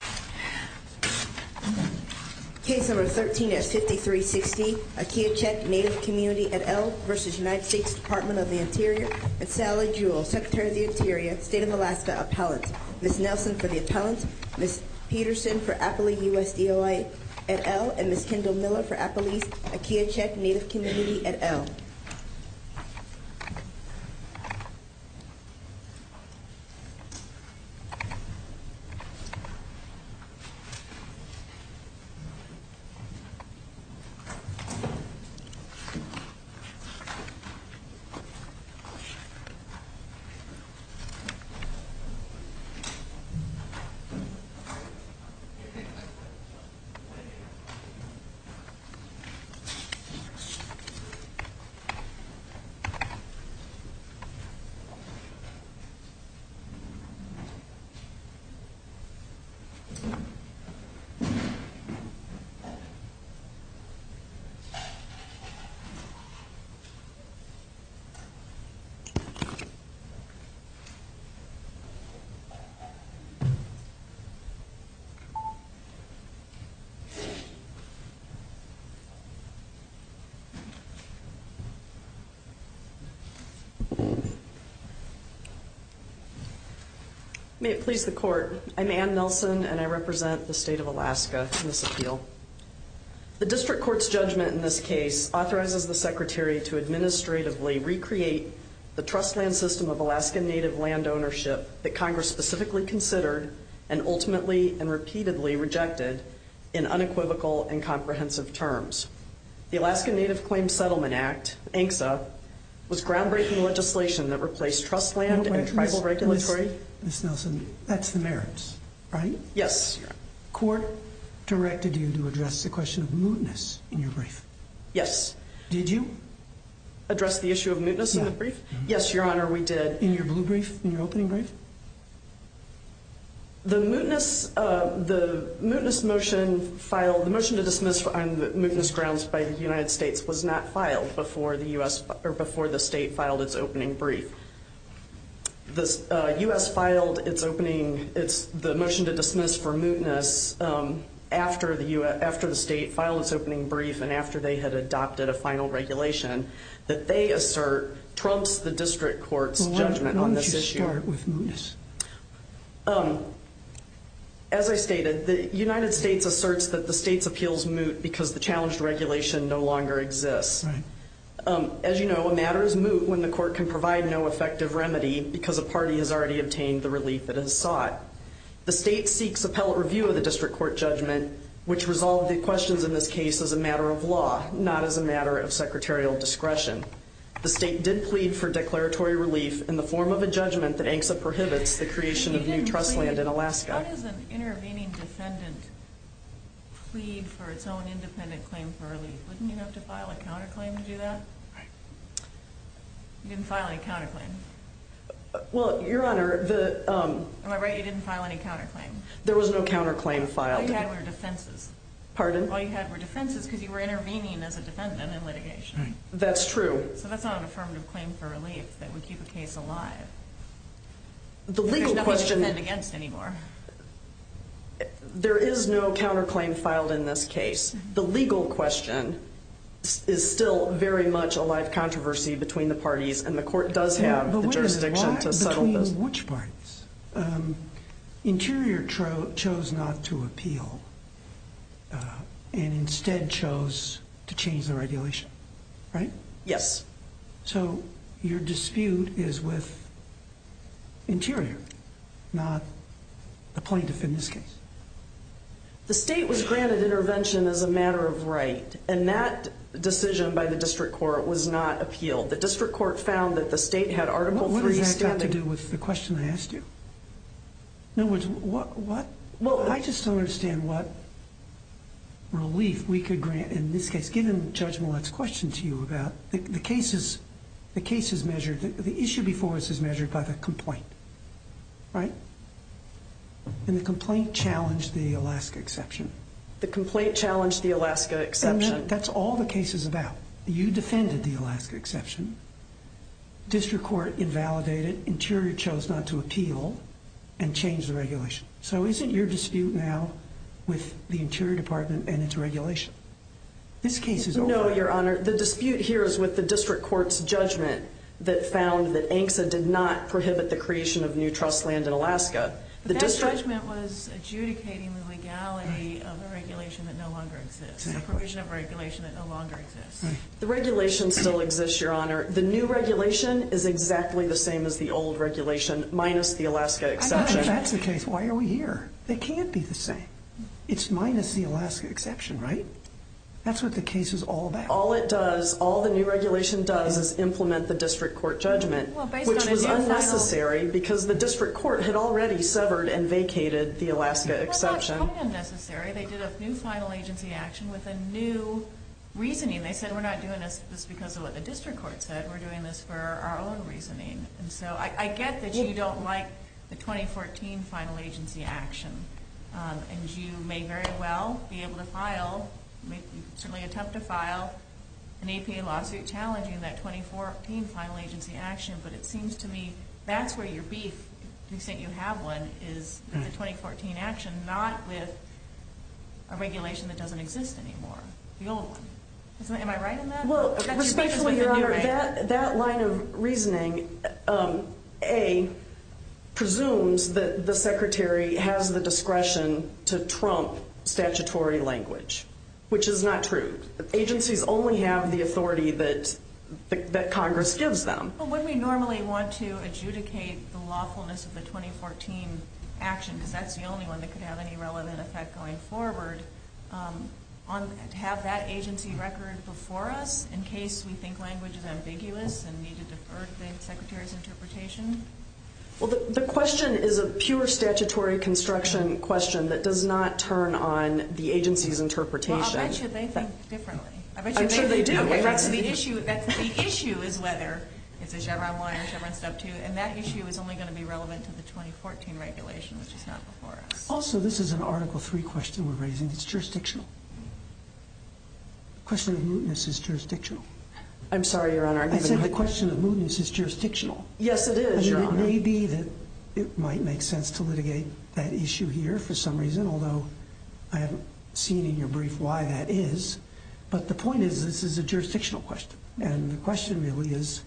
v. United States Department of the Interior, and Sally Jewell, Secretary of the Interior, State of Alaska Appellant, Ms. Nelson for the Appellant, Ms. Peterson for Appalachian Appellant, Ms. Peterson for Appalachian Appellant, Ms. Nelson for Appalachian Appellant, Ms. Peterson for Appalachian Appellant, Ms. Peterson for Appalachian Appellant, Ms. Peterson for Appalachian May it please the Court, I'm Anne Nelson and I represent the State of Alaska in this appeal. The District Court's judgment in this case authorizes the Secretary to administratively recreate the trust land system of Alaska Native land ownership that Congress specifically considered and ultimately and repeatedly rejected in unequivocal and comprehensive terms. The Alaska Native Claims Settlement Act, ANCSA, was groundbreaking legislation that replaced trust land and tribal regulatory Ms. Nelson, that's the merits, right? Yes, Your Honor. Court directed you to address the question of mootness in your brief. Yes. Did you? Address the issue of mootness in the brief? No. Yes, Your Honor, we did. In your blue brief, in your opening brief? The mootness motion filed, the motion to dismiss on mootness grounds by the United States was not filed before the State filed its opening brief. The U.S. filed the motion to dismiss for mootness after the State filed its opening brief and after they had adopted a final regulation that they assert trumps the District Court's judgment on this issue. Let's start with mootness. As I stated, the United States asserts that the State's appeals moot because the challenged regulation no longer exists. Right. As you know, a matter is moot when the Court can provide no effective remedy because a party has already obtained the relief it has sought. The State seeks appellate review of the District Court judgment, which resolved the questions in this case as a matter of law, not as a matter of secretarial discretion. The State did plead for declaratory relief in the form of a judgment that ANCSA prohibits the creation of new trust land in Alaska. How does an intervening defendant plead for its own independent claim for relief? Wouldn't you have to file a counterclaim to do that? Right. You didn't file any counterclaim. Well, Your Honor, the... Am I right? You didn't file any counterclaim? There was no counterclaim filed. All you had were defenses. Pardon? All you had were defenses because you were intervening as a defendant in litigation. That's right. That's true. So that's not an affirmative claim for relief that would keep the case alive. The legal question... There's nothing to defend against anymore. There is no counterclaim filed in this case. The legal question is still very much a live controversy between the parties, and the Court does have the jurisdiction to settle this. But wait a minute. Why? Between which parties? Interior chose not to appeal and instead chose to change the regulation, right? Yes. So your dispute is with Interior, not the plaintiff in this case. The State was granted intervention as a matter of right, and that decision by the District Court was not appealed. The District Court found that the State had Article III standing. What does that have to do with the question I asked you? In other words, what? I just don't understand what relief we could grant in this case, given Judge Millett's question to you about... The case is measured, the issue before us is measured by the complaint, right? And the complaint challenged the Alaska exception. The complaint challenged the Alaska exception. And that's all the case is about. You defended the Alaska exception. District Court invalidated, Interior chose not to appeal and changed the regulation. So isn't your dispute now with the Interior Department and its regulation? This case is over. No, Your Honor. The dispute here is with the District Court's judgment that found that ANCSA did not prohibit the creation of new trust land in Alaska. But that judgment was adjudicating the legality of a regulation that no longer exists, a provision of regulation that no longer exists. The regulation still exists, Your Honor. The new regulation is exactly the same as the old regulation, minus the Alaska exception. If that's the case, why are we here? They can't be the same. It's minus the Alaska exception, right? That's what the case is all about. All it does, all the new regulation does is implement the District Court judgment, which was unnecessary because the District Court had already severed and vacated the Alaska exception. Well, not totally unnecessary. They did a new final agency action with a new reasoning. They said we're not doing this because of what the District Court said. We're doing this for our own reasoning. And so I get that you don't like the 2014 final agency action. And you may very well be able to file, certainly attempt to file, an APA lawsuit challenging that 2014 final agency action. But it seems to me that's where your beef, to the extent you have one, is the 2014 action, not with a regulation that doesn't exist anymore, the old one. Am I right in that? That line of reasoning, A, presumes that the Secretary has the discretion to trump statutory language, which is not true. Agencies only have the authority that Congress gives them. But when we normally want to adjudicate the lawfulness of the 2014 action, because that's the only one that could have any relevant effect going forward, to have that agency record before us in case we think language is ambiguous and need to defer the Secretary's interpretation? Well, the question is a pure statutory construction question that does not turn on the agency's interpretation. Well, I'll bet you they think differently. I'm sure they do. The issue is whether it's a Chevron 1 or a Chevron 2, and that issue is only going to be relevant to the 2014 regulation, which is not before us. Also, this is an Article III question we're raising. It's jurisdictional. The question of mootness is jurisdictional. I'm sorry, Your Honor. I said the question of mootness is jurisdictional. Yes, it is, Your Honor. It may be that it might make sense to litigate that issue here for some reason, although I haven't seen in your brief why that is. But the point is this is a jurisdictional question, and the question really is,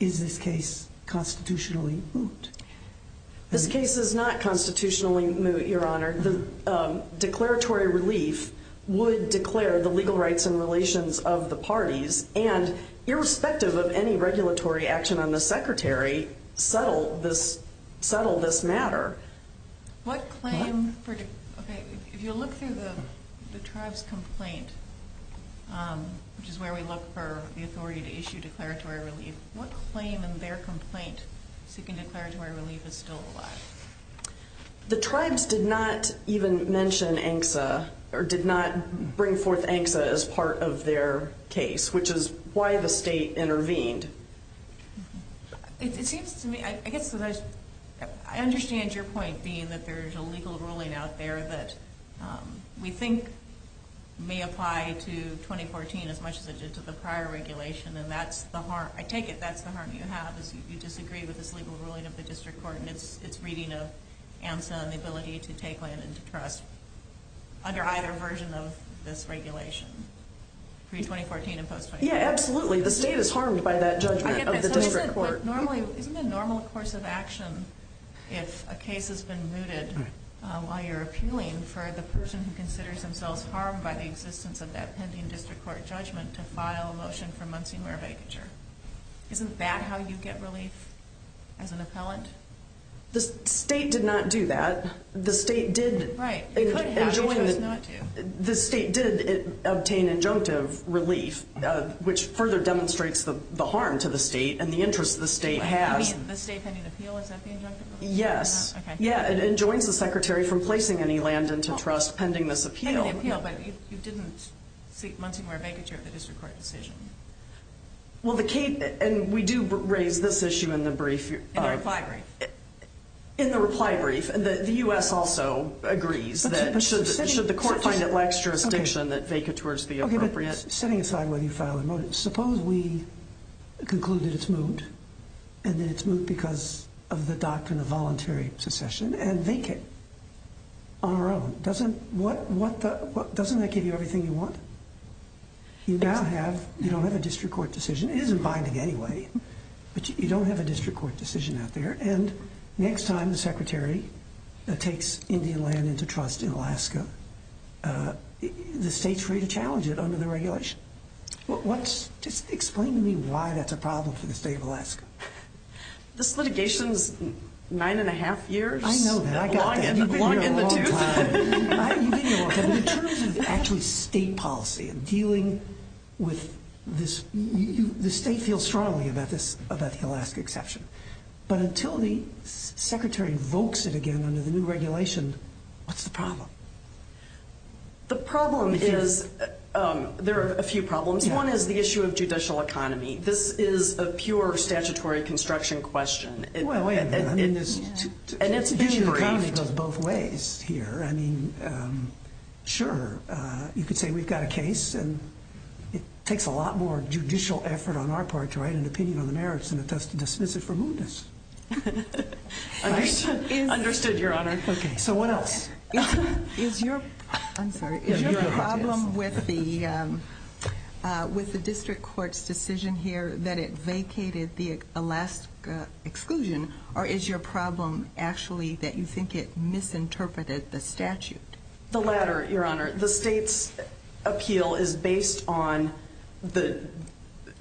is this case constitutionally moot? This case is not constitutionally moot, Your Honor. The declaratory relief would declare the legal rights and relations of the parties, and irrespective of any regulatory action on the Secretary, settle this matter. If you look through the tribe's complaint, which is where we look for the authority to issue declaratory relief, what claim in their complaint seeking declaratory relief is still alive? The tribes did not even mention ANCSA or did not bring forth ANCSA as part of their case, which is why the state intervened. It seems to me, I understand your point being that there's a legal ruling out there that we think may apply to 2014 as much as it did to the prior regulation, and I take it that's the harm you have is you disagree with this legal ruling of the district court, and it's reading of ANCSA and the ability to take land into trust under either version of this regulation, pre-2014 and post-2014. Yeah, absolutely. The state is harmed by that judgment of the district court. Isn't it a normal course of action if a case has been mooted while you're appealing for the person who considers themselves harmed by the existence of that pending district court judgment to file a motion for Muncie-Moore vacature? Isn't that how you get relief as an appellant? The state did not do that. Right. It could have. You chose not to. The state did obtain injunctive relief, which further demonstrates the harm to the state and the interest the state has. You mean the state pending appeal, is that the injunctive relief? Yes. It enjoins the secretary from placing any land into trust pending this appeal. Pending the appeal, but you didn't seek Muncie-Moore vacature at the district court decision. We do raise this issue in the brief. In the reply brief. The U.S. also agrees that should the court find it lacks jurisdiction, that vacatures be appropriate. Setting aside whether you file a motion, suppose we conclude that it's moved and that it's moved because of the doctrine of voluntary secession and vacant on our own. Doesn't that give you everything you want? You don't have a district court decision. It isn't binding anyway, but you don't have a district court decision out there. And next time the secretary takes Indian land into trust in Alaska, the state's free to challenge it under the regulation. Just explain to me why that's a problem for the state of Alaska. This litigation's nine and a half years. I know that. I got that. You've been here a long time. You've been here a long time. In terms of actually state policy and dealing with this, the state feels strongly about the Alaska exception. But until the secretary invokes it again under the new regulation, what's the problem? The problem is, there are a few problems. One is the issue of judicial economy. This is a pure statutory construction question. Judicial economy goes both ways here. Sure, you could say we've got a case, and it takes a lot more judicial effort on our part to write an opinion on the merits than it does to dismiss it for moodness. Understood, Your Honor. So what else? Is your problem with the district court's decision here that it vacated the Alaska exclusion, or is your problem actually that you think it misinterpreted the statute? The latter, Your Honor. The state's appeal is based on the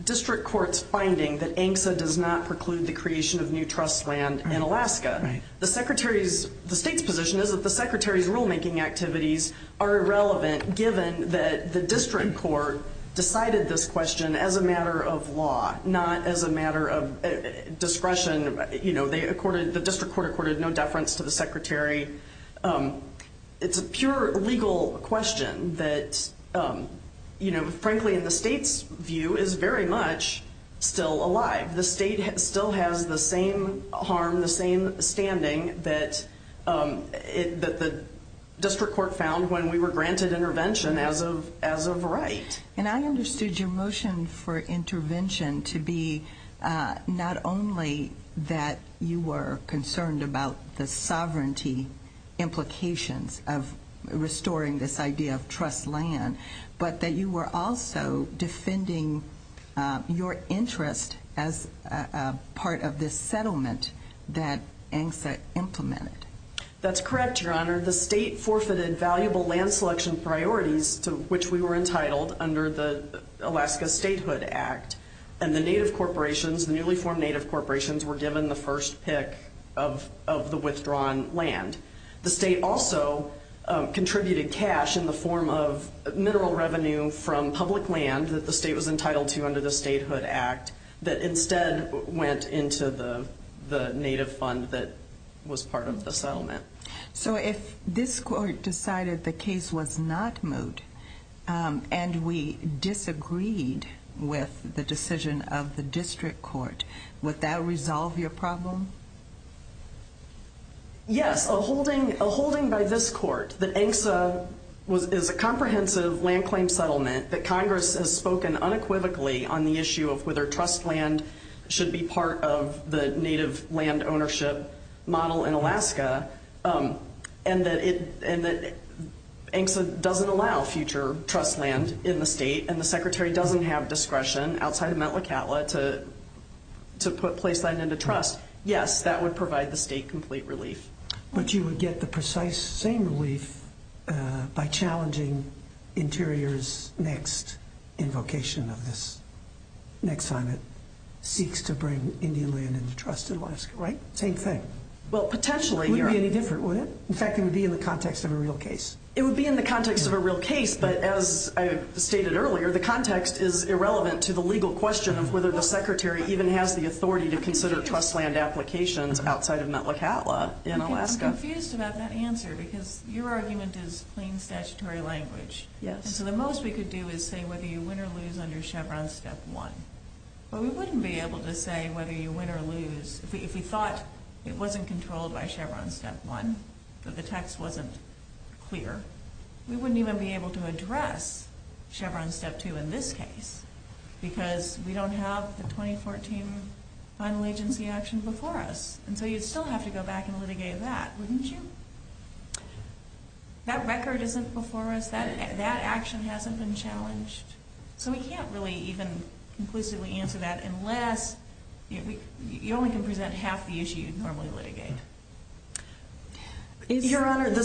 district court's finding that ANCSA does not preclude the creation of new trust land in Alaska. The state's position is that the secretary's rulemaking activities are irrelevant, given that the district court decided this question as a matter of law, not as a matter of discretion. The district court accorded no deference to the secretary. It's a pure legal question that, frankly, in the state's view, is very much still alive. The state still has the same harm, the same standing that the district court found when we were granted intervention as of right. And I understood your motion for intervention to be not only that you were concerned about the sovereignty implications of restoring this idea of trust land, but that you were also defending your interest as part of this settlement that ANCSA implemented. That's correct, Your Honor. The state forfeited valuable land selection priorities to which we were entitled under the Alaska Statehood Act, and the native corporations, the newly formed native corporations, were given the first pick of the withdrawn land. The state also contributed cash in the form of mineral revenue from public land that the state was entitled to under the Statehood Act that instead went into the native fund that was part of the settlement. So if this court decided the case was not moot and we disagreed with the decision of the district court, would that resolve your problem? Yes. A holding by this court that ANCSA is a comprehensive land claim settlement, that Congress has spoken unequivocally on the issue of whether trust land should be part of the native land ownership model in Alaska, and that ANCSA doesn't allow future trust land in the state and the Secretary doesn't have discretion outside of Mt. Lakatla to put place land into trust, yes, that would provide the state complete relief. But you would get the precise same relief by challenging Interior's next invocation of this, next time it seeks to bring Indian land into trust in Alaska, right? Same thing. Well, potentially. It wouldn't be any different, would it? In fact, it would be in the context of a real case. It would be in the context of a real case, but as I stated earlier, the context is irrelevant to the legal question of whether the Secretary even has the authority to consider trust land applications outside of Mt. Lakatla in Alaska. I'm confused about that answer because your argument is plain statutory language. Yes. And so the most we could do is say whether you win or lose under Chevron Step 1, but we wouldn't be able to say whether you win or lose if we thought it wasn't controlled by Chevron Step 1, that the text wasn't clear, we wouldn't even be able to address Chevron Step 2 in this case because we don't have the 2014 final agency action before us. And so you'd still have to go back and litigate that, wouldn't you? That record isn't before us. That action hasn't been challenged. So we can't really even conclusively answer that unless you only can present half the issue you'd normally litigate. Your Honor, the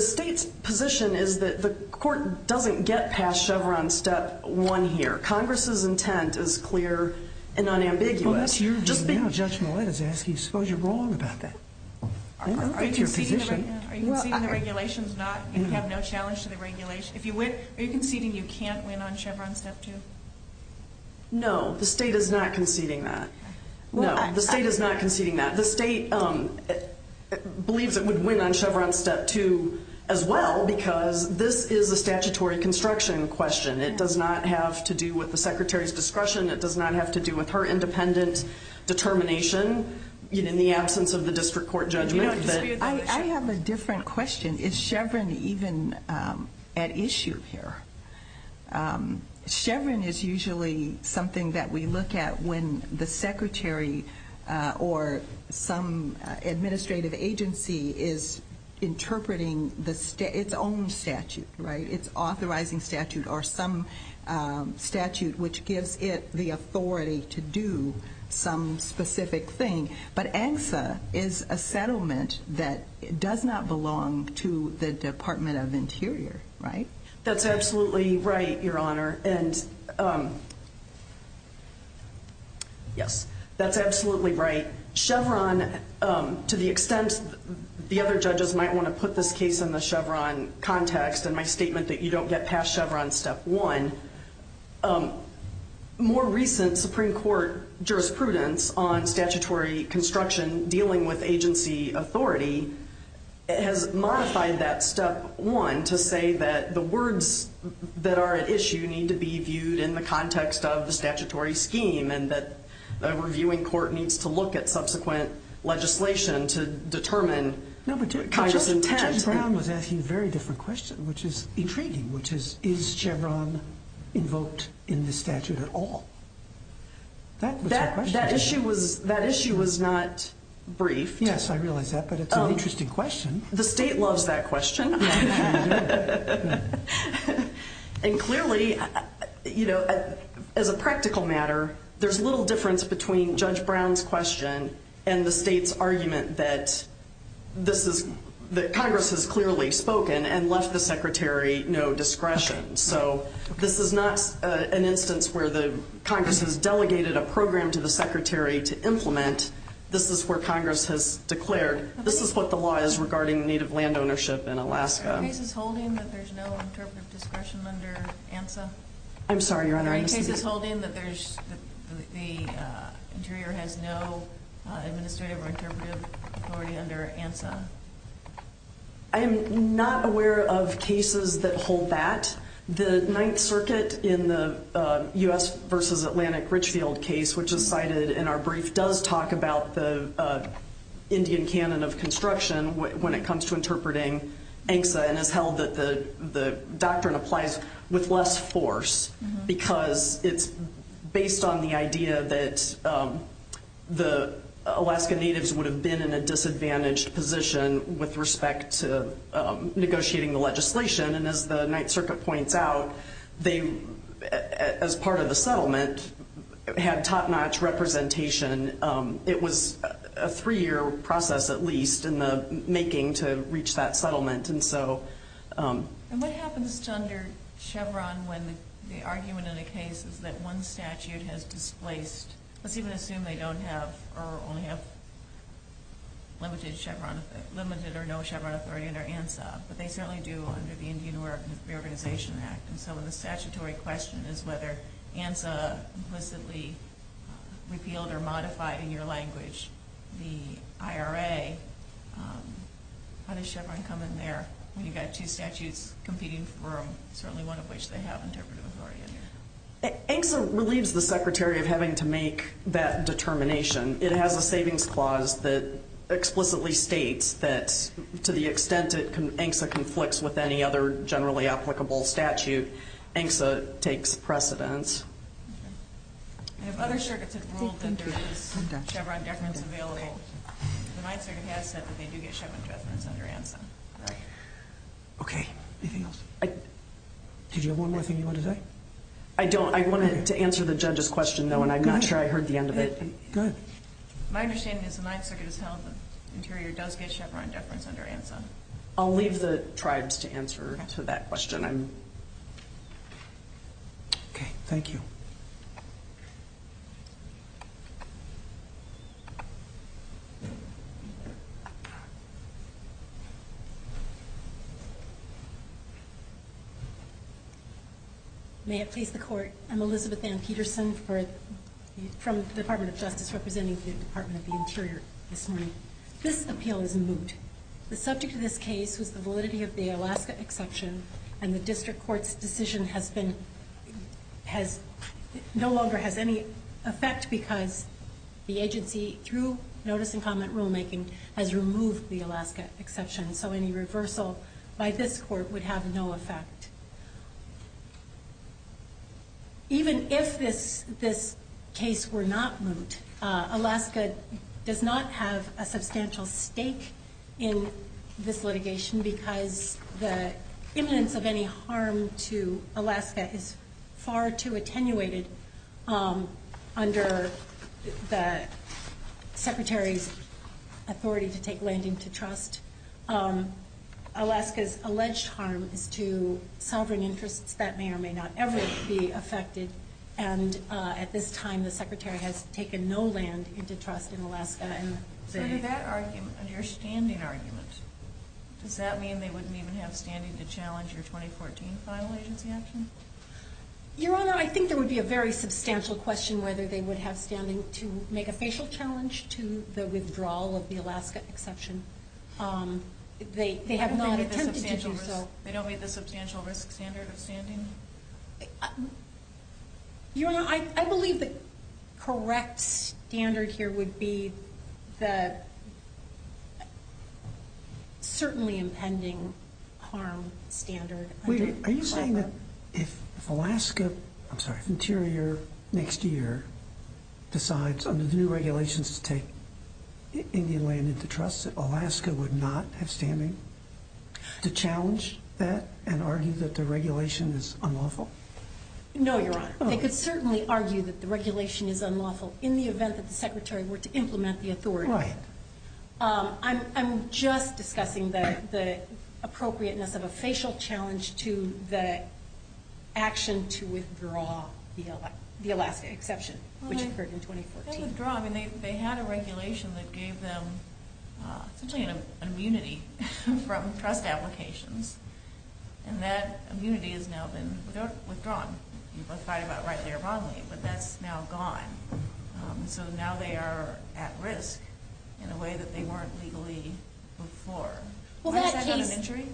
state's position is that the court doesn't get past Chevron Step 1 here. Congress's intent is clear and unambiguous. Well, that's your view now, Judge Millett is asking. I suppose you're wrong about that. I know that's your position. Are you conceding the regulation is not, you have no challenge to the regulation? If you win, are you conceding you can't win on Chevron Step 2? No, the state is not conceding that. No, the state is not conceding that. The state believes it would win on Chevron Step 2 as well because this is a statutory construction question. It does not have to do with the secretary's discretion. It does not have to do with her independent determination in the absence of the district court judgment. I have a different question. Is Chevron even at issue here? Chevron is usually something that we look at when the secretary or some administrative agency is interpreting its own statute, right? Its authorizing statute or some statute which gives it the authority to do some specific thing. But ANSA is a settlement that does not belong to the Department of Interior, right? That's absolutely right, Your Honor, and yes, that's absolutely right. Chevron, to the extent the other judges might want to put this case in the Chevron context and my statement that you don't get past Chevron Step 1, more recent Supreme Court jurisprudence on statutory construction dealing with agency authority has modified that Step 1 to say that the words that are at issue need to be viewed in the context of the statutory scheme and that a reviewing court needs to look at subsequent legislation to determine Congress's intent. Judge Brown was asking a very different question, which is intriguing, which is, is Chevron invoked in the statute at all? That was her question. That issue was not briefed. Yes, I realize that, but it's an interesting question. The state loves that question. And clearly, you know, as a practical matter, there's little difference between Judge Brown's question and the state's argument that Congress has clearly spoken and left the secretary no discretion. So this is not an instance where Congress has delegated a program to the secretary to implement. This is where Congress has declared, this is what the law is regarding native land ownership in Alaska. Are there any cases holding that there's no interpretive discretion under ANSA? I'm sorry, Your Honor, I misstated. Are there any cases holding that the interior has no administrative or interpretive authority under ANSA? I am not aware of cases that hold that. The Ninth Circuit in the U.S. versus Atlantic Richfield case, which is cited in our brief, does talk about the Indian canon of construction when it comes to interpreting ANSA and has held that the doctrine applies with less force because it's based on the idea that the Alaska natives would have been in a disadvantaged position with respect to negotiating the legislation. And as the Ninth Circuit points out, they, as part of the settlement, had top-notch representation. It was a three-year process, at least, in the making to reach that settlement. And what happens to under Chevron when the argument in the case is that one statute has displaced, let's even assume they don't have or only have limited or no Chevron authority under ANSA, but they certainly do under the Indian Reorganization Act. And so the statutory question is whether ANSA implicitly repealed or modified in your language the IRA. How does Chevron come in there when you've got two statutes competing for them, certainly one of which they have interpretive authority under? ANSA relieves the Secretary of having to make that determination. It has a savings clause that explicitly states that to the extent that ANSA conflicts with any other generally applicable statute, ANSA takes precedence. I have other circuits that ruled that there is Chevron deference available. The Ninth Circuit has said that they do get Chevron deference under ANSA. Okay. Anything else? Did you have one more thing you wanted to say? I don't. I wanted to answer the judge's question, though, and I'm not sure I heard the end of it. Go ahead. My understanding is the Ninth Circuit has held that Interior does get Chevron deference under ANSA. I'll leave the tribes to answer to that question. Okay. Thank you. May it please the Court. I'm Elizabeth Ann Peterson from the Department of Justice, representing the Department of the Interior this morning. This appeal is moot. The subject of this case was the validity of the Alaska exception, and the district court's decision no longer has any effect because the agency, through notice and comment rulemaking, has removed the Alaska exception, so any reversal by this court would have no effect. Even if this case were not moot, Alaska does not have a substantial stake in this litigation because the imminence of any harm to Alaska is far too attenuated under the Secretary's authority to take land into trust. Alaska's alleged harm is to sovereign interests that may or may not ever be affected, and at this time the Secretary has taken no land into trust in Alaska. So under that argument, under your standing argument, does that mean they wouldn't even have standing to challenge your 2014 final agency action? Your Honor, I think there would be a very substantial question whether they would have standing to make a facial challenge to the withdrawal of the Alaska exception. They have not attempted to do so. They don't meet the substantial risk standard of standing? Your Honor, I believe the correct standard here would be the certainly impending harm standard. Are you saying that if Alaska, I'm sorry, if Interior next year decides under the new regulations to take Indian land into trust, that Alaska would not have standing to challenge that and argue that the regulation is unlawful? No, Your Honor. They could certainly argue that the regulation is unlawful in the event that the Secretary were to implement the authority. Right. I'm just discussing the appropriateness of a facial challenge to the action to withdraw the Alaska exception, which occurred in 2014. They had a regulation that gave them essentially an immunity from trust applications, and that immunity has now been withdrawn. You both fight about rightly or wrongly, but that's now gone. So now they are at risk in a way that they weren't legally before. Why is that not an injury?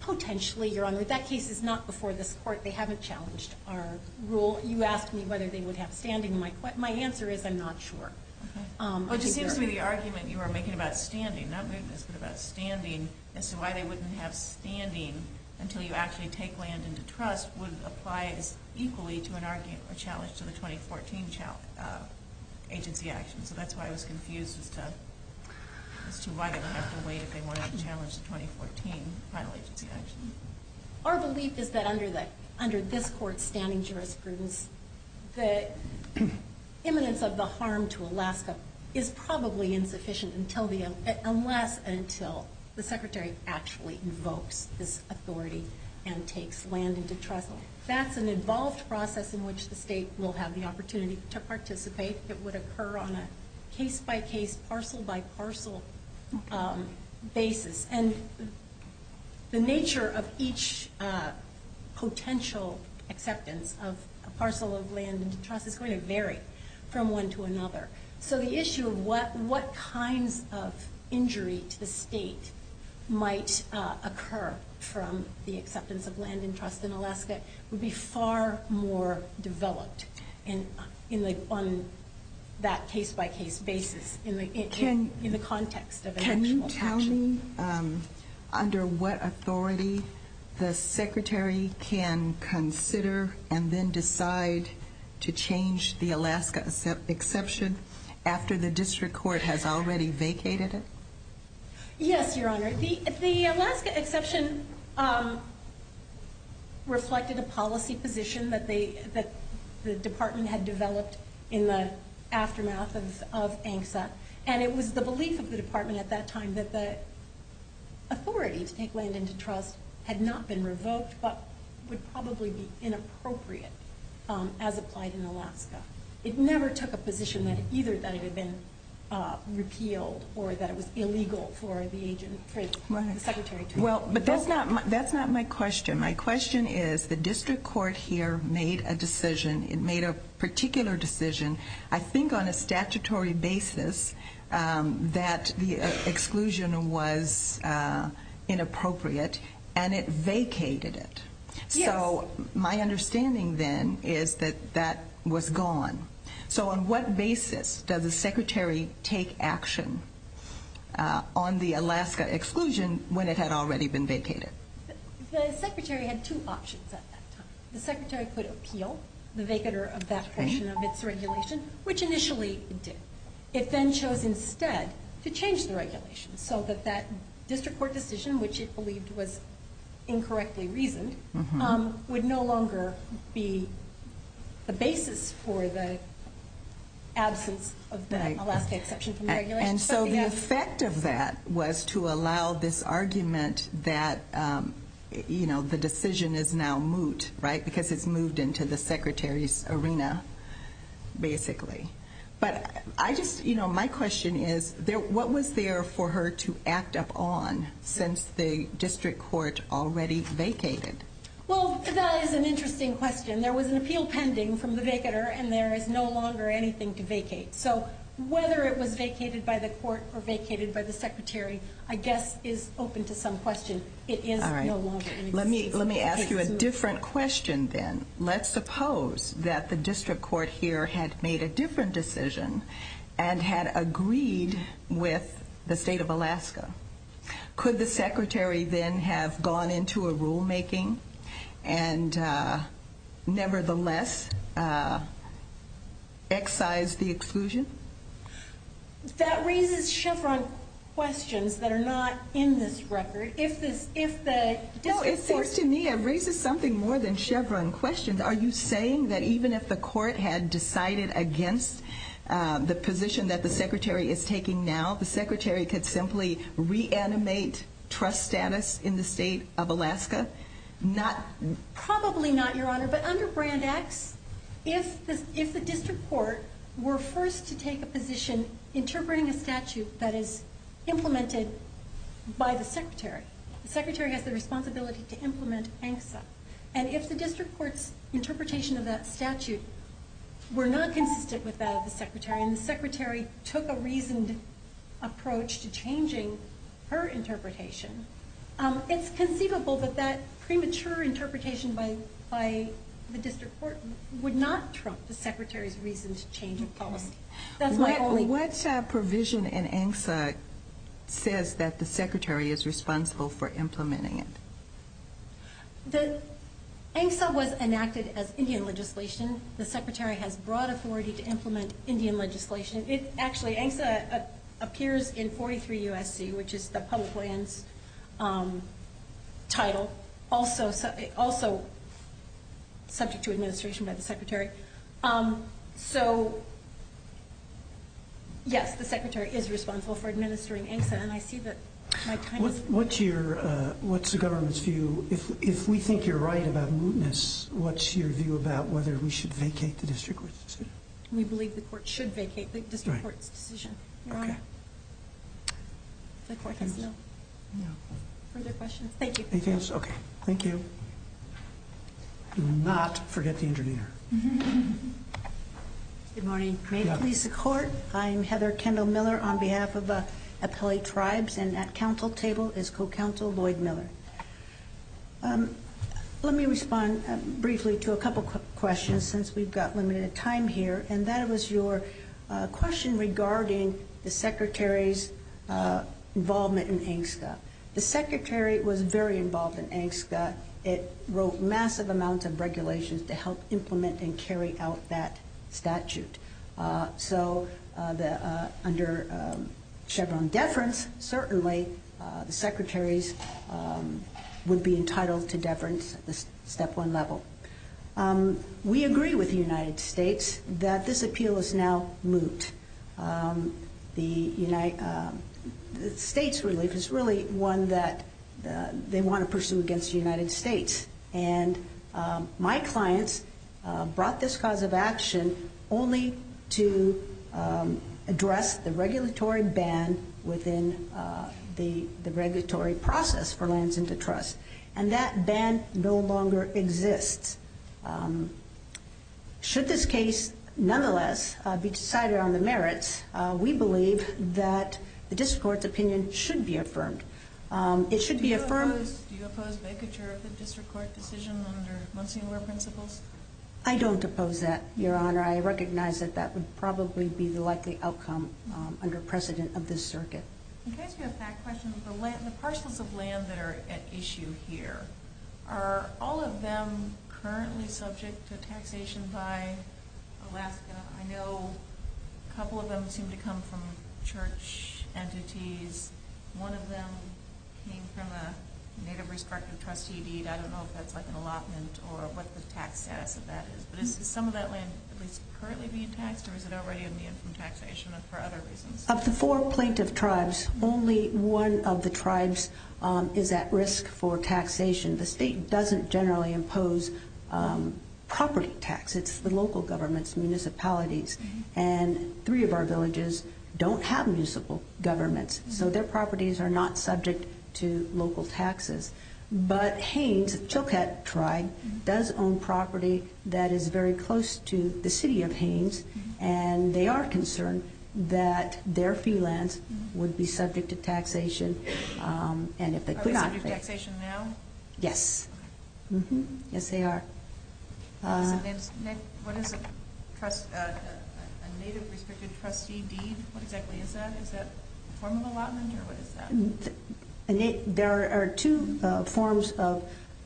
Potentially, Your Honor. That case is not before this Court. They haven't challenged our rule. You asked me whether they would have standing. My answer is I'm not sure. Okay. Well, it just seems to me the argument you are making about standing, not weakness, but about standing as to why they wouldn't have standing until you actually take land into trust would apply equally to a challenge to the 2014 agency action. So that's why I was confused as to why they would have to wait if they wanted to challenge the 2014 final agency action. Our belief is that under this Court's standing jurisprudence, the imminence of the harm to Alaska is probably insufficient unless and until the Secretary actually invokes this authority and takes land into trust. That's an involved process in which the State will have the opportunity to participate. It would occur on a case-by-case, parcel-by-parcel basis. And the nature of each potential acceptance of a parcel of land into trust is going to vary from one to another. So the issue of what kinds of injury to the State might occur from the acceptance of land in trust in Alaska would be far more developed on that case-by-case basis in the context of an actual action. Does that mean under what authority the Secretary can consider and then decide to change the Alaska exception after the District Court has already vacated it? Yes, Your Honor. The Alaska exception reflected a policy position that the Department had developed in the aftermath of ANCSA. And it was the belief of the Department at that time that the authority to take land into trust had not been revoked but would probably be inappropriate as applied in Alaska. It never took a position either that it had been repealed or that it was illegal for the Secretary to invoke it. That's not my question. My question is the District Court here made a decision. It made a particular decision. I think on a statutory basis that the exclusion was inappropriate and it vacated it. So my understanding then is that that was gone. So on what basis does the Secretary take action on the Alaska exclusion when it had already been vacated? The Secretary had two options at that time. The Secretary could appeal the vacater of that portion of its regulation, which initially it did. It then chose instead to change the regulation so that that District Court decision, which it believed was incorrectly reasoned, would no longer be the basis for the absence of the Alaska exception from the regulation. So the effect of that was to allow this argument that the decision is now moot, because it's moved into the Secretary's arena, basically. But my question is, what was there for her to act upon since the District Court already vacated? That is an interesting question. There was an appeal pending from the vacater, and there is no longer anything to vacate. So whether it was vacated by the court or vacated by the Secretary, I guess is open to some question. It is no longer in existence. Let me ask you a different question then. Let's suppose that the District Court here had made a different decision and had agreed with the State of Alaska. Could the Secretary then have gone into a rulemaking and nevertheless excised the exclusion? That raises Chevron questions that are not in this record. No, it seems to me it raises something more than Chevron questions. Are you saying that even if the court had decided against the position that the Secretary is taking now, the Secretary could simply reanimate trust status in the State of Alaska? Probably not, Your Honor. But under Brand X, if the District Court were first to take a position interpreting a statute that is implemented by the Secretary, the Secretary has the responsibility to implement ANCSA. And if the District Court's interpretation of that statute were not consistent with that of the Secretary and the Secretary took a reasoned approach to changing her interpretation, it's conceivable that that premature interpretation by the District Court would not trump the Secretary's reasoned change of policy. What provision in ANCSA says that the Secretary is responsible for implementing it? ANCSA was enacted as Indian legislation. The Secretary has broad authority to implement Indian legislation. Actually, ANCSA appears in 43 U.S.C., which is the public lands title, also subject to administration by the Secretary. So, yes, the Secretary is responsible for administering ANCSA. And I see that my time is up. What's the government's view? If we think you're right about mootness, what's your view about whether we should vacate the District Court's decision? We believe the court should vacate the District Court's decision. You're on. Further questions? Thank you. Anything else? Okay. Thank you. Do not forget the intervener. Good morning. May it please the Court? I'm Heather Kendall Miller on behalf of Appellee Tribes, and at Council table is Co-Counsel Lloyd Miller. Let me respond briefly to a couple of questions since we've got limited time here, and that was your question regarding the Secretary's involvement in ANCSA. The Secretary was very involved in ANCSA. It wrote massive amounts of regulations to help implement and carry out that statute. So under Chevron deference, certainly the Secretaries would be entitled to deference at the step one level. We agree with the United States that this appeal is now moot. The United States relief is really one that they want to pursue against the United States, and my clients brought this cause of action only to address the regulatory ban within the regulatory process for lands into trust, and that ban no longer exists. Should this case nonetheless be decided on the merits, we believe that the District Court's opinion should be affirmed. Do you oppose vacature of the District Court decision under Monsignor principles? I don't oppose that, Your Honor. I recognize that that would probably be the likely outcome under precedent of this circuit. In case you have that question, the parcels of land that are at issue here, are all of them currently subject to taxation by Alaska? I know a couple of them seem to come from church entities. One of them came from a Native-respective trustee deed. I don't know if that's like an allotment or what the tax status of that is, but is some of that land at least currently being taxed, or is it already on the end from taxation for other reasons? Of the four plaintiff tribes, only one of the tribes is at risk for taxation. The state doesn't generally impose property tax. It's the local governments, municipalities, and three of our villages don't have municipal governments, so their properties are not subject to local taxes. But Haynes, Chilkat tribe, does own property that is very close to the city of Haynes, and they are concerned that their fee lands would be subject to taxation. Are they subject to taxation now? Yes. Yes, they are. What is a Native-respected trustee deed? What exactly is that? Is that a form of allotment, or what is that? There are two forms of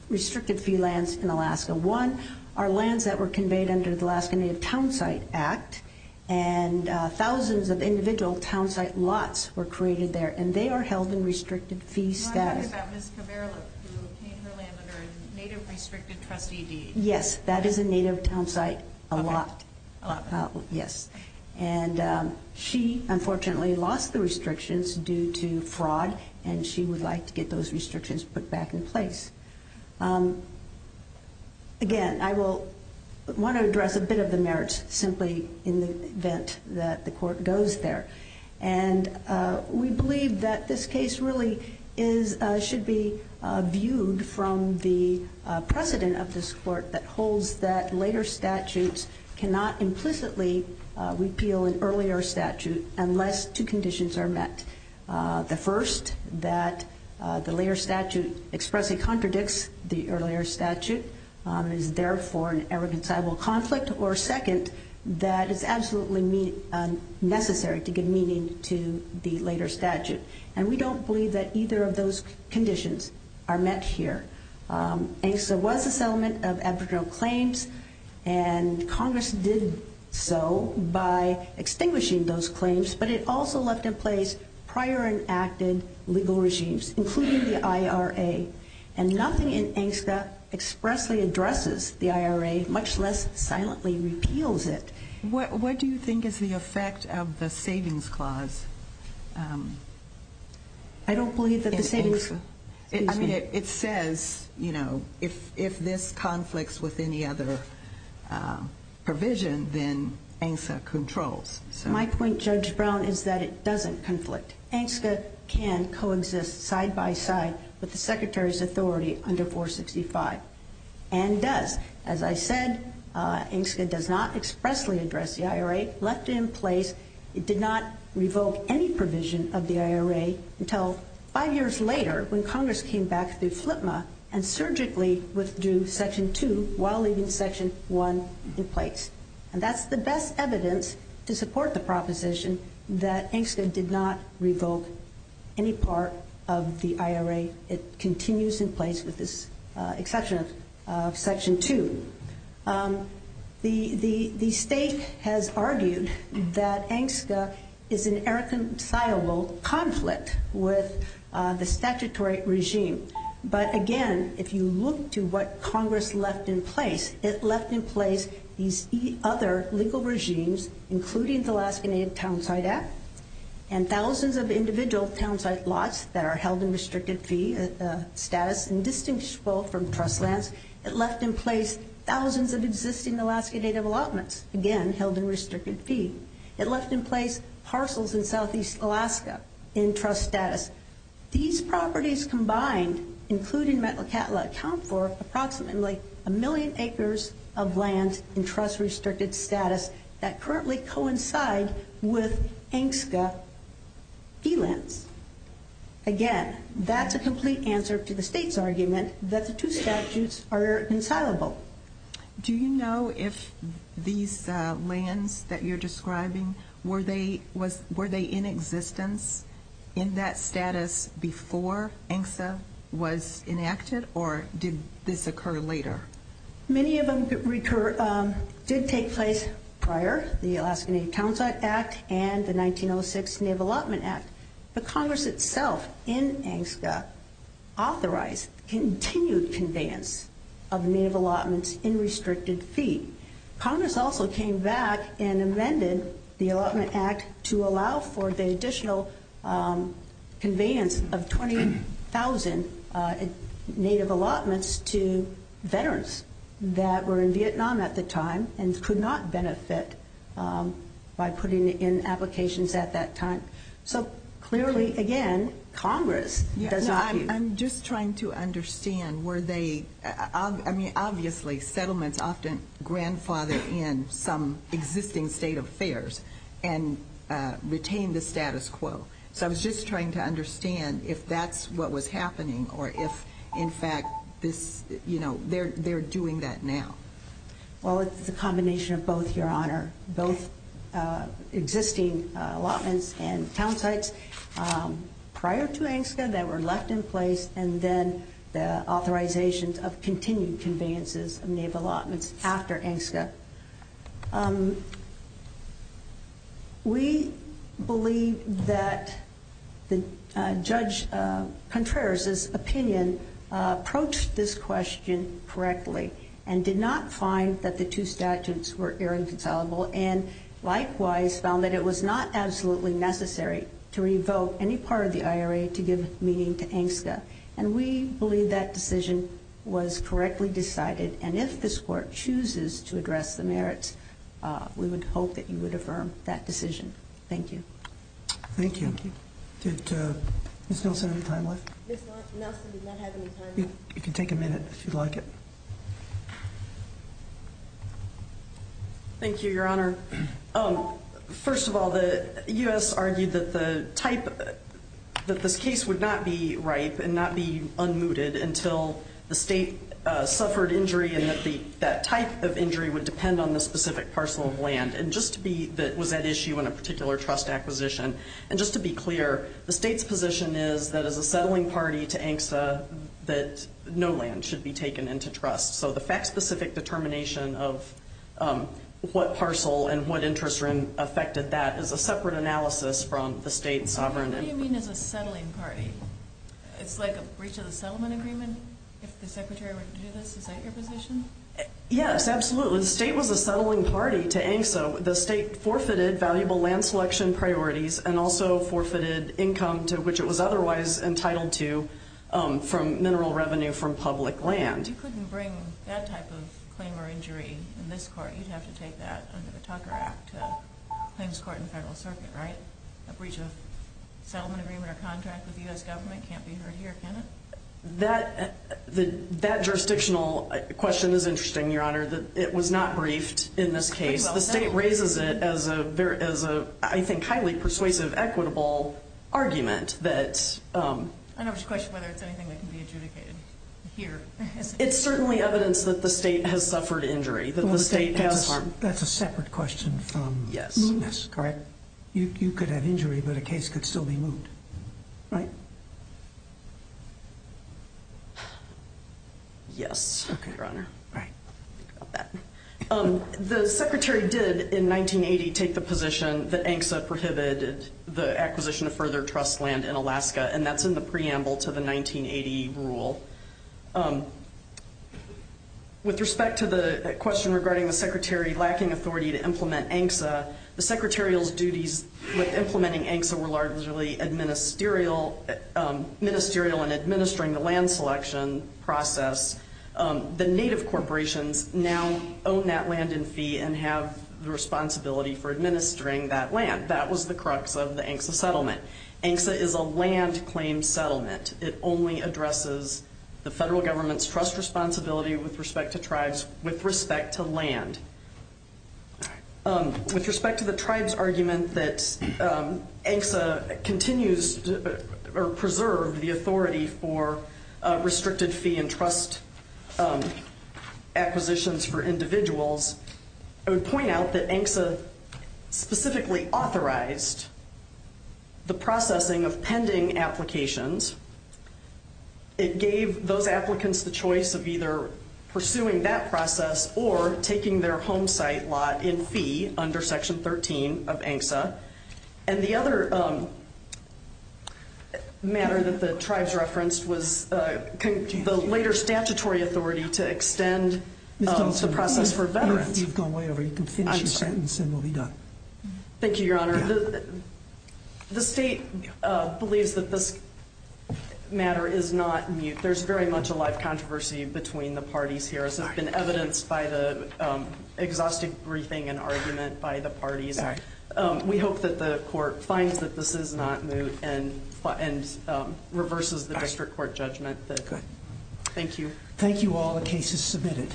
restricted-fee lands in Alaska. One are lands that were conveyed under the Alaska Native Townsite Act, and thousands of individual townsite lots were created there, and they are held in restricted-fee status. You want to talk about Ms. Kavaraluk, who paid her land under a Native-restricted trustee deed. Yes, that is a Native townsite allotment. And she, unfortunately, lost the restrictions due to fraud, and she would like to get those restrictions put back in place. Again, I want to address a bit of the merits simply in the event that the court goes there. And we believe that this case really should be viewed from the precedent of this court that holds that later statutes cannot implicitly repeal an earlier statute unless two conditions are met. The first, that the later statute expressly contradicts the earlier statute, is therefore an irreconcilable conflict. Or second, that it's absolutely necessary to give meaning to the later statute. And we don't believe that either of those conditions are met here. ANGSTA was a settlement of aboriginal claims, and Congress did so by extinguishing those claims, but it also left in place prior enacted legal regimes, including the IRA. And nothing in ANGSTA expressly addresses the IRA, much less silently repeals it. What do you think is the effect of the savings clause? I don't believe that the savings clause... I mean, it says, you know, if this conflicts with any other provision, then ANGSTA controls. My point, Judge Brown, is that it doesn't conflict. ANGSTA can coexist side by side with the Secretary's authority under 465, and does. As I said, ANGSTA does not expressly address the IRA. It did not revoke any provision of the IRA until five years later when Congress came back through FLTMA and surgically withdrew Section 2 while leaving Section 1 in place. And that's the best evidence to support the proposition that ANGSTA did not revoke any part of the IRA. It continues in place with the exception of Section 2. The state has argued that ANGSTA is an irreconcilable conflict with the statutory regime. But, again, if you look to what Congress left in place, it left in place these other legal regimes, including the Alaska Native Townsite Act and thousands of individual townsite lots that are held in restricted fee status and distinguishable from trust lands. It left in place thousands of existing Alaska Native allotments, again, held in restricted fee. It left in place parcels in southeast Alaska in trust status. These properties combined, including Metlakatla, account for approximately a million acres of land in trust-restricted status that currently coincide with ANGSTA fee lands. Again, that's a complete answer to the state's argument that the two statutes are irreconcilable. Do you know if these lands that you're describing, were they in existence in that status before ANGSTA was enacted, or did this occur later? Many of them did take place prior, the Alaska Native Townsite Act and the 1906 Native Allotment Act. But Congress itself, in ANGSTA, authorized continued conveyance of Native allotments in restricted fee. Congress also came back and amended the Allotment Act to allow for the additional conveyance of 20,000 Native allotments to veterans that were in Vietnam at the time and could not benefit by putting in applications at that time. So clearly, again, Congress does argue... I'm just trying to understand, were they... I mean, obviously, settlements often grandfather in some existing state affairs and retain the status quo. So I was just trying to understand if that's what was happening or if, in fact, they're doing that now. Well, it's a combination of both, Your Honor. Both existing allotments and townsites prior to ANGSTA that were left in place and then the authorizations of continued conveyances of Native allotments after ANGSTA. We believe that Judge Contreras' opinion approached this question correctly and did not find that the two statutes were irreconcilable and likewise found that it was not absolutely necessary to revoke any part of the IRA to give meaning to ANGSTA. And we believe that decision was correctly decided. And if this Court chooses to address the merits, we would hope that you would affirm that decision. Thank you. Thank you. Did Ms. Nelson have any time left? Ms. Nelson did not have any time left. You can take a minute if you'd like it. Thank you, Your Honor. First of all, the U.S. argued that the type of this case would not be ripe and not be unmuted until the state suffered injury and that type of injury would depend on the specific parcel of land. And just to be that was at issue in a particular trust acquisition. And just to be clear, the state's position is that as a settling party to ANGSTA, that no land should be taken into trust. So the fact-specific determination of what parcel and what interest affected that is a separate analysis from the state sovereign. What do you mean as a settling party? It's like a breach of the settlement agreement if the Secretary were to do this? Is that your position? Yes, absolutely. The state was a settling party to ANGSTA. So the state forfeited valuable land selection priorities and also forfeited income to which it was otherwise entitled to from mineral revenue from public land. You couldn't bring that type of claim or injury in this court. You'd have to take that under the Tucker Act Claims Court in the Federal Circuit, right? A breach of settlement agreement or contract with the U.S. government can't be heard here, can it? That jurisdictional question is interesting, Your Honor. It was not briefed in this case. The state raises it as a, I think, highly persuasive, equitable argument that I never questioned whether it's anything that can be adjudicated here. It's certainly evidence that the state has suffered injury, that the state has harmed. That's a separate question from movements, correct? You could have injury, but a case could still be moved, right? Yes, Your Honor. The Secretary did in 1980 take the position that ANGSTA prohibited the acquisition of further trust land in Alaska, and that's in the preamble to the 1980 rule. With respect to the question regarding the Secretary lacking authority to implement ANGSTA, the Secretarial's duties with implementing ANGSTA were largely ministerial and administering the land selection process. The native corporations now own that land in fee and have the responsibility for administering that land. That was the crux of the ANGSTA settlement. ANGSTA is a land claim settlement. It only addresses the federal government's trust responsibility with respect to tribes with respect to land. With respect to the tribes' argument that ANGSTA continues or preserved the authority for restricted fee and trust acquisitions for individuals, I would point out that ANGSTA specifically authorized the processing of pending applications. It gave those applicants the choice of either pursuing that process or taking their home site lot in fee under Section 13 of ANGSTA. And the other matter that the tribes referenced was the later statutory authority to extend the process for veterans. If you've gone way over, you can finish your sentence and we'll be done. Thank you, Your Honor. The state believes that this matter is not moot. There's very much a live controversy between the parties here, as has been evidenced by the exhaustive briefing and argument by the parties. We hope that the court finds that this is not moot and reverses the district court judgment. Thank you. Thank you all. The case is submitted.